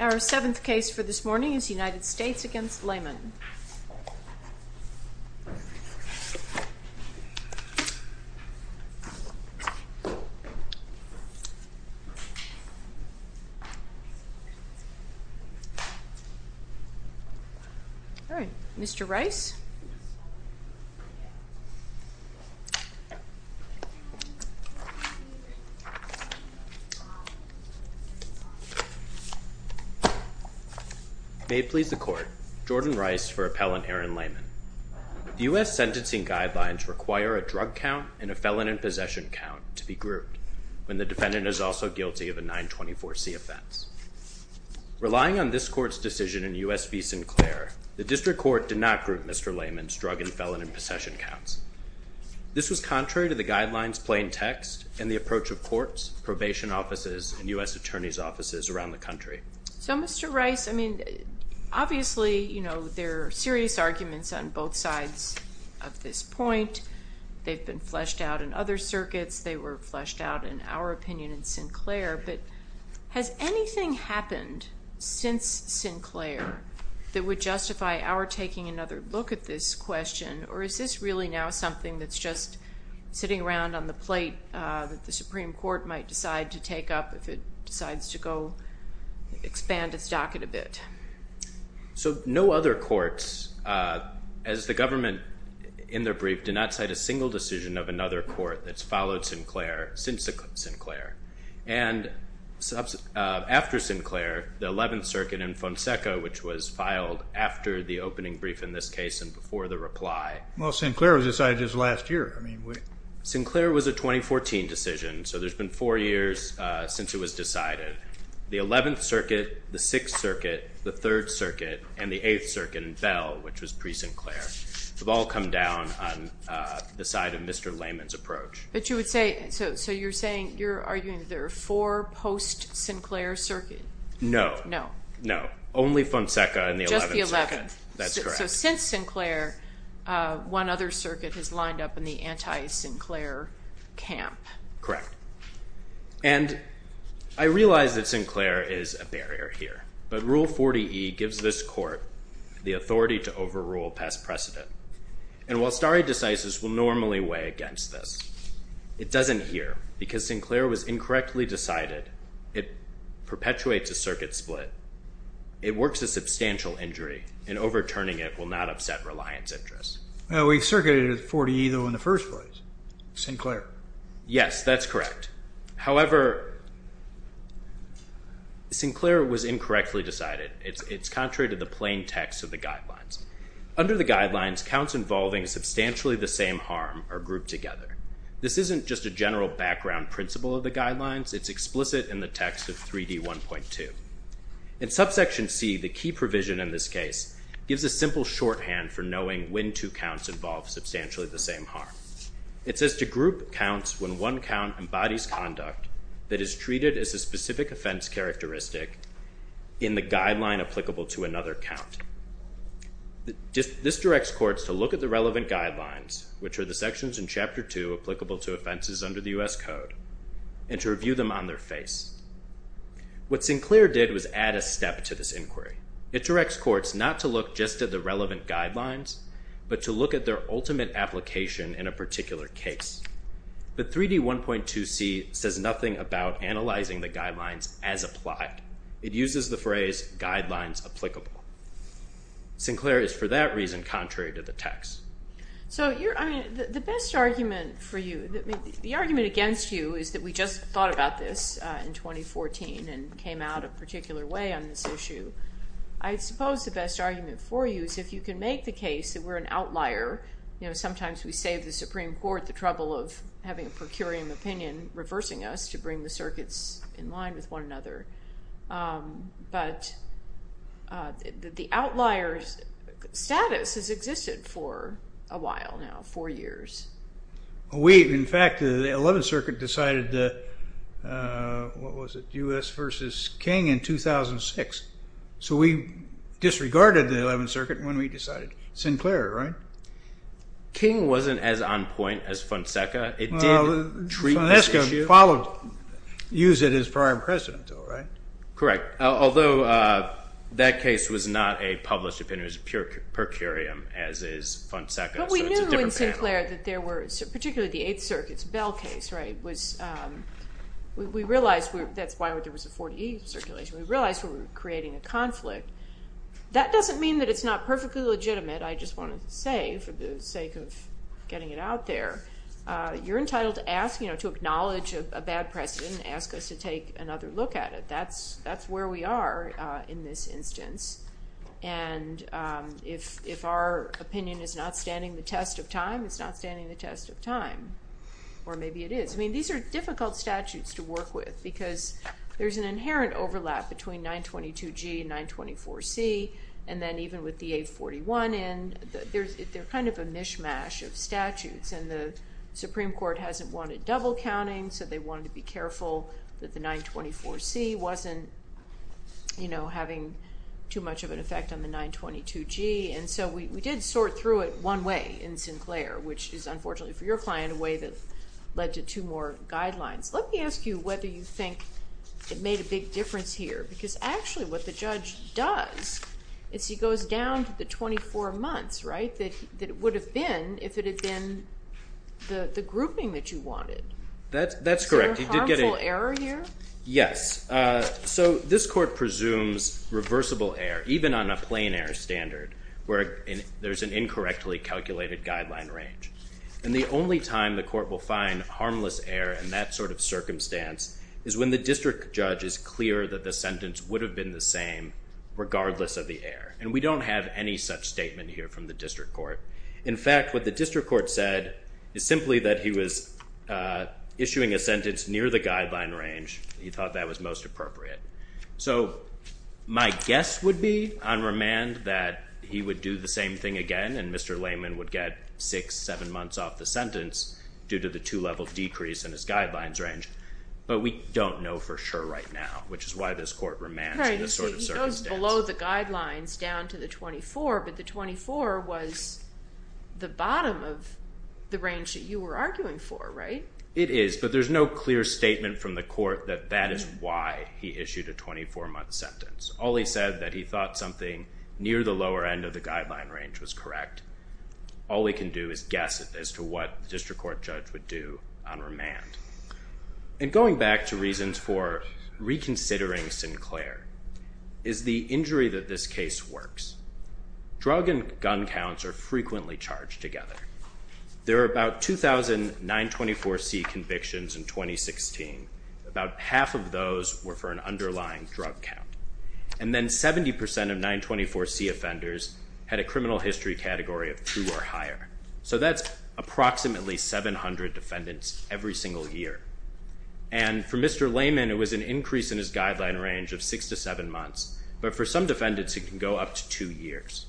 Our 7th case for this morning is United States v. Lamon. All right, Mr. Rice. May it please the Court, Jordan Rice for Appellant Aaron Lamon. The U.S. sentencing guidelines require a drug count and a felon in possession count to be grouped when the defendant is also guilty of a 924c offense. Relying on this Court's decision in U.S. v. Sinclair, the District Court did not group Mr. Lamon's drug and felon in possession counts. This was contrary to the guidelines plain text and the approach of courts, probation offices, and U.S. attorneys' offices around the country. So, Mr. Rice, I mean, obviously, you know, there are serious arguments on both sides of this point. They've been fleshed out in other circuits. They were fleshed out, in our opinion, in Sinclair. But has anything happened since Sinclair that would justify our taking another look at this question? Or is this really now something that's just sitting around on the plate that the Supreme Court might decide to take up if it decides to go expand its docket a bit? So no other courts, as the government in their brief, did not cite a single decision of another court that's followed Sinclair since Sinclair. And after Sinclair, the 11th Circuit in Fonseca, which was filed after the opening brief in this case and before the reply. Well, Sinclair was decided just last year. Sinclair was a 2014 decision, so there's been four years since it was decided. The 11th Circuit, the 6th Circuit, the 3rd Circuit, and the 8th Circuit in Bell, which was pre-Sinclair, have all come down on the side of Mr. Layman's approach. But you would say, so you're saying, you're arguing that there are four post-Sinclair circuits? No. No. No. Only Fonseca and the 11th Circuit. Just the 11th. That's correct. So since Sinclair, one other circuit has lined up in the anti-Sinclair camp. Correct. And I realize that Sinclair is a barrier here, but Rule 40E gives this court the authority to overrule past precedent. And while stare decisis will normally weigh against this, it doesn't here because Sinclair was incorrectly decided. It perpetuates a circuit split. It works a substantial injury, and overturning it will not upset reliance interests. Well, we circuited at 40E, though, in the first place. Sinclair. Yes, that's correct. However, Sinclair was incorrectly decided. It's contrary to the plain text of the guidelines. Under the guidelines, counts involving substantially the same harm are grouped together. This isn't just a general background principle of the guidelines. It's explicit in the text of 3D1.2. In subsection C, the key provision in this case gives a simple shorthand for knowing when two counts involve substantially the same harm. It says to group counts when one count embodies conduct that is treated as a specific offense characteristic in the guideline applicable to another count. This directs courts to look at the relevant guidelines, which are the sections in Chapter 2 applicable to offenses under the U.S. Code, and to review them on their face. What Sinclair did was add a step to this inquiry. It directs courts not to look just at the relevant guidelines, but to look at their ultimate application in a particular case. But 3D1.2C says nothing about analyzing the guidelines as applied. It uses the phrase guidelines applicable. Sinclair is, for that reason, contrary to the text. So the best argument for you, the argument against you is that we just thought about this in 2014 and came out a particular way on this issue. I suppose the best argument for you is if you can make the case that we're an outlier. Sometimes we save the Supreme Court the trouble of having a per curiam opinion reversing us to bring the circuits in line with one another. But the outlier's status has existed for a while now, four years. In fact, the Eleventh Circuit decided the U.S. versus King in 2006. So we disregarded the Eleventh Circuit when we decided Sinclair, right? King wasn't as on point as Fonseca. Fonseca used it as prime precedent, though, right? Correct. Although that case was not a published opinion. It was a per curiam as is Fonseca. But we knew in Sinclair that there were, particularly the Eighth Circuit's Bell case, right? We realized that's why there was a 4D circulation. We realized we were creating a conflict. That doesn't mean that it's not perfectly legitimate. I just want to say for the sake of getting it out there. You're entitled to ask, you know, to acknowledge a bad precedent and ask us to take another look at it. That's where we are in this instance. And if our opinion is not standing the test of time, it's not standing the test of time. Or maybe it is. I mean, these are difficult statutes to work with because there's an inherent overlap between 922G and 924C. And then even with the 841 in, they're kind of a mishmash of statutes. And the Supreme Court hasn't wanted double counting. So they wanted to be careful that the 924C wasn't, you know, having too much of an effect on the 922G. And so we did sort through it one way in Sinclair, which is unfortunately for your client a way that led to two more guidelines. Let me ask you whether you think it made a big difference here. Because actually what the judge does is he goes down to the 24 months, right, that it would have been if it had been the grouping that you wanted. That's correct. Is there a harmful error here? Yes. So this court presumes reversible error even on a plain error standard where there's an incorrectly calculated guideline range. And the only time the court will find harmless error in that sort of circumstance is when the district judge is clear that the sentence would have been the same regardless of the error. And we don't have any such statement here from the district court. In fact, what the district court said is simply that he was issuing a sentence near the guideline range. He thought that was most appropriate. So my guess would be on remand that he would do the same thing again and Mr. Lehman would get six, seven months off the sentence due to the two-level decrease in his guidelines range. But we don't know for sure right now, which is why this court remands in this sort of circumstance. He goes below the guidelines down to the 24, but the 24 was the bottom of the range that you were arguing for, right? It is, but there's no clear statement from the court that that is why he issued a 24-month sentence. All he said that he thought something near the lower end of the guideline range was correct. All we can do is guess as to what the district court judge would do on remand. And going back to reasons for reconsidering Sinclair is the injury that this case works. Drug and gun counts are frequently charged together. There are about 2,000 924C convictions in 2016. About half of those were for an underlying drug count. And then 70% of 924C offenders had a criminal history category of two or higher. So that's approximately 700 defendants every single year. And for Mr. Lehman, it was an increase in his guideline range of six to seven months. But for some defendants, it can go up to two years.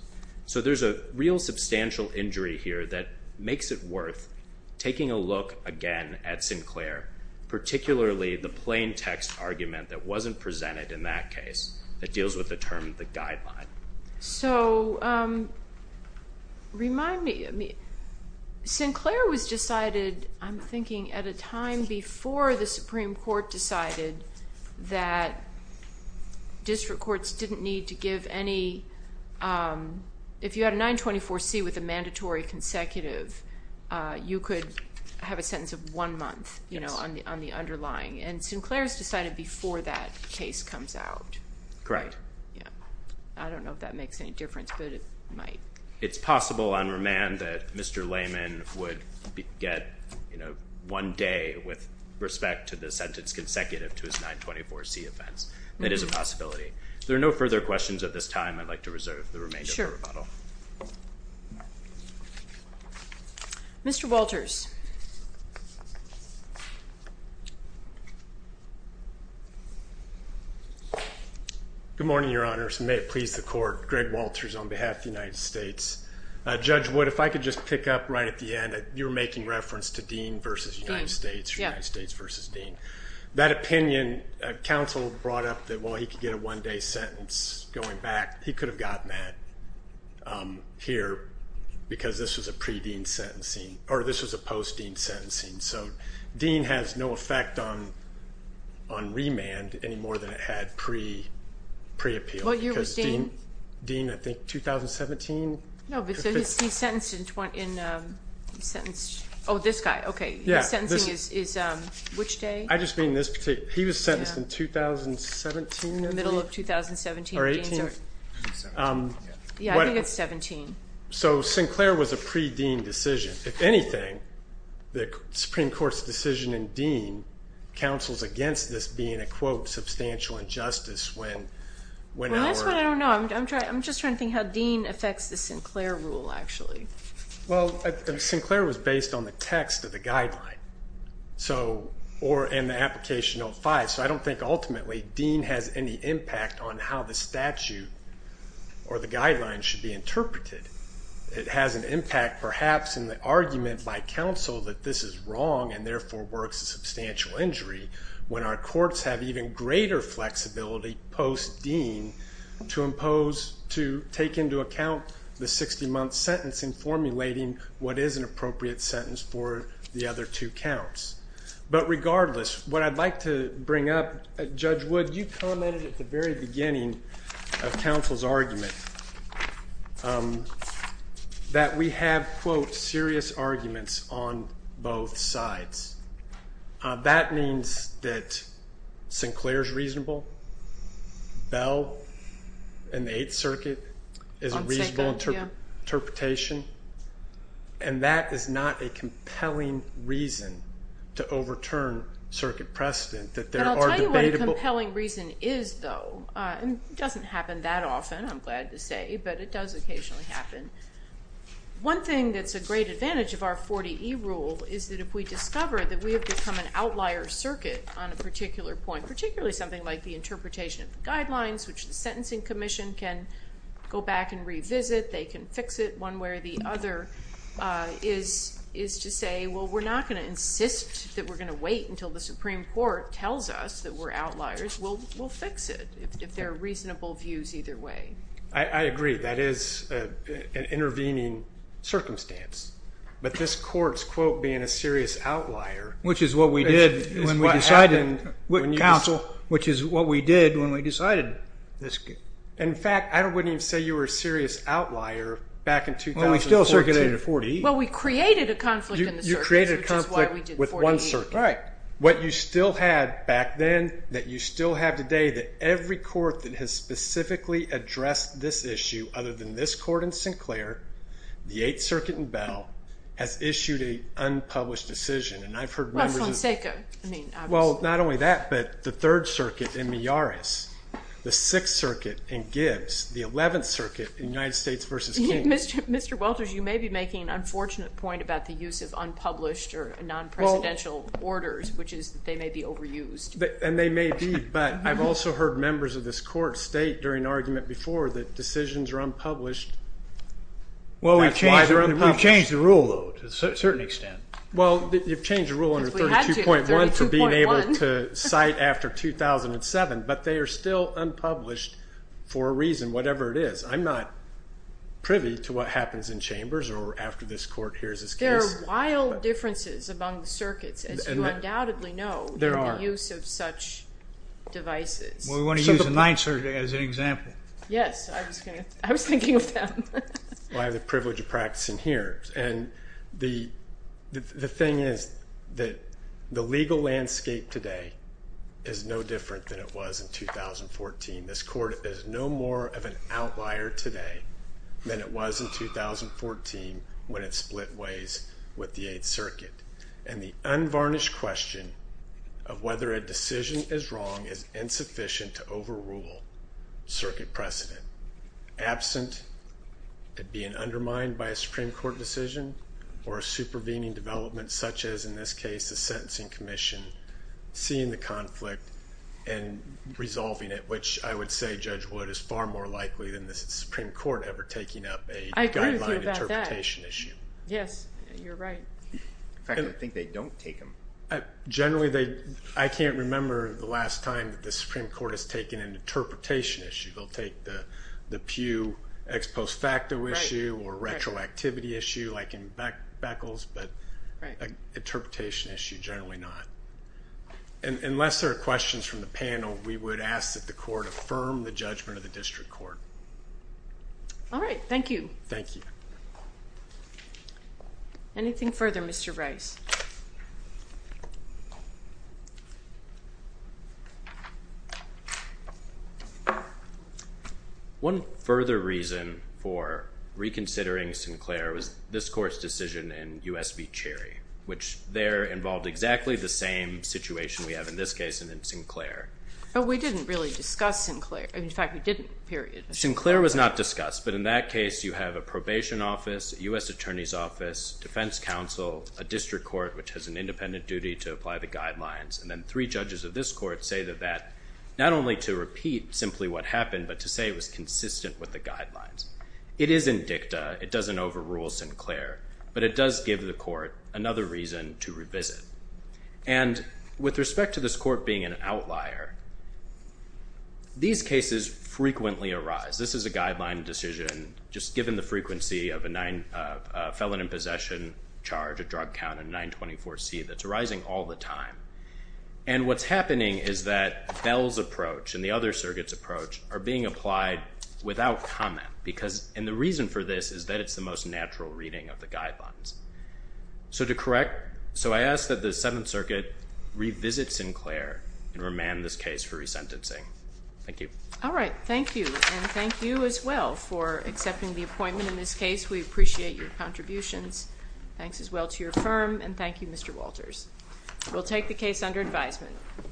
So there's a real substantial injury here that makes it worth taking a look again at Sinclair, particularly the plain text argument that wasn't presented in that case that deals with the term the guideline. So remind me. Sinclair was decided, I'm thinking, at a time before the Supreme Court decided that district courts didn't need to give any. If you had a 924C with a mandatory consecutive, you could have a sentence of one month on the underlying. And Sinclair's decided before that case comes out. Correct. I don't know if that makes any difference, but it might. It's possible on remand that Mr. Lehman would get one day with respect to the sentence consecutive to his 924C offense. That is a possibility. There are no further questions at this time. I'd like to reserve the remainder of the rebuttal. Sure. Mr. Walters. Good morning, Your Honors, and may it please the Court. Greg Walters on behalf of the United States. Judge Wood, if I could just pick up right at the end. You were making reference to Dean v. United States, United States v. Dean. That opinion, counsel brought up that, well, he could get a one-day sentence going back. He could have gotten that here because this was a pre-Dean sentencing, or this was a post-Dean sentencing. So Dean has no effect on remand any more than it had pre-appeal. What year was Dean? Dean, I think, 2017? No, but he's sentenced in, oh, this guy. Okay. Yeah. His sentencing is which day? I just mean this particular. He was sentenced in 2017, I think. Middle of 2017. Or 18. Yeah, I think it's 17. So Sinclair was a pre-Dean decision. If anything, the Supreme Court's decision in Dean counsels against this being a, quote, substantial injustice when our- Well, that's what I don't know. I'm just trying to think how Dean affects the Sinclair rule, actually. Well, Sinclair was based on the text of the guideline, or in the application 05. So I don't think ultimately Dean has any impact on how the statute or the guidelines should be interpreted. It has an impact, perhaps, in the argument by counsel that this is wrong and, therefore, works a substantial injury when our courts have even greater flexibility post-Dean to impose, to take into account the 60-month sentence in formulating what is an appropriate sentence for the other two counts. But regardless, what I'd like to bring up, Judge Wood, you commented at the very beginning of counsel's argument that we have, quote, serious arguments on both sides. That means that Sinclair's reasonable, Bell in the Eighth Circuit is a reasonable interpretation, and that is not a compelling reason to overturn circuit precedent, that there are debatable- I hate to say, but it does occasionally happen. One thing that's a great advantage of our 40E rule is that if we discover that we have become an outlier circuit on a particular point, particularly something like the interpretation of the guidelines, which the Sentencing Commission can go back and revisit, they can fix it one way or the other, is to say, well, we're not going to insist that we're going to wait until the Supreme Court tells us that we're outliers. We'll fix it if there are reasonable views either way. I agree. That is an intervening circumstance. But this court's, quote, being a serious outlier- Which is what we did when we decided- Counsel. Which is what we did when we decided this- In fact, I wouldn't even say you were a serious outlier back in 2014. Well, we still circulated 40E. Well, we created a conflict in the circuit, which is why we did 40E. You created a conflict with one circuit. Right. What you still had back then, that you still have today, that every court that has specifically addressed this issue other than this court in Sinclair, the Eighth Circuit in Bell, has issued an unpublished decision. And I've heard members of- Well, it's on SACA. Well, not only that, but the Third Circuit in Miyares, the Sixth Circuit in Gibbs, the Eleventh Circuit in United States v. King. Mr. Walters, you may be making an unfortunate point about the use of unpublished or non-presidential orders, which is that they may be overused. And they may be. But I've also heard members of this court state during argument before that decisions are unpublished. Well, we've changed the rule, though, to a certain extent. Well, you've changed the rule under 32.1 to being able to cite after 2007. But they are still unpublished for a reason, whatever it is. I'm not privy to what happens in chambers or after this court hears this case. There are wild differences among the circuits, as you undoubtedly know, in the use of such devices. Well, we want to use the Ninth Circuit as an example. Yes. I was thinking of them. Well, I have the privilege of practicing here. And the thing is that the legal landscape today is no different than it was in 2014. This court is no more of an outlier today than it was in 2014 when it split ways with the Eighth Circuit. And the unvarnished question of whether a decision is wrong is insufficient to overrule circuit precedent. Absent of being undermined by a Supreme Court decision or a supervening development such as, in this case, a sentencing commission, seeing the conflict and resolving it, which I would say, Judge Wood, is far more likely than the Supreme Court ever taking up a guideline interpretation issue. I agree with you about that. Yes, you're right. In fact, I think they don't take them. Generally, I can't remember the last time that the Supreme Court has taken an interpretation issue. They'll take the Pew ex post facto issue or retroactivity issue like in Beckles, but interpretation issue, generally not. Unless there are questions from the panel, we would ask that the court affirm the judgment of the district court. All right. Thank you. Thank you. Anything further, Mr. Rice? One further reason for reconsidering Sinclair was this court's decision in U.S. v. Cherry, which there involved exactly the same situation we have in this case and in Sinclair. Oh, we didn't really discuss Sinclair. In fact, we didn't, period. Sinclair was not discussed, but in that case, you have a probation office, U.S. Attorney's Office, defense counsel, a district court, which has an independent duty to apply the guidelines, and then three judges of this court say that that, not only to repeat simply what happened, but to say it was consistent with the guidelines. It isn't dicta. It doesn't overrule Sinclair, but it does give the court another reason to revisit. And with respect to this court being an outlier, these cases frequently arise. This is a guideline decision, just given the frequency of a felon in possession charge, a drug count, a 924C, that's arising all the time. And what's happening is that Bell's approach and the other surrogates' approach are being applied without comment, and the reason for this is that it's the most natural reading of the guidelines. So to correct, so I ask that the Seventh Circuit revisit Sinclair and remand this case for resentencing. Thank you. All right. Thank you, and thank you as well for accepting the appointment in this case. We appreciate your contributions. Thanks as well to your firm, and thank you, Mr. Walters. We'll take the case under advisement.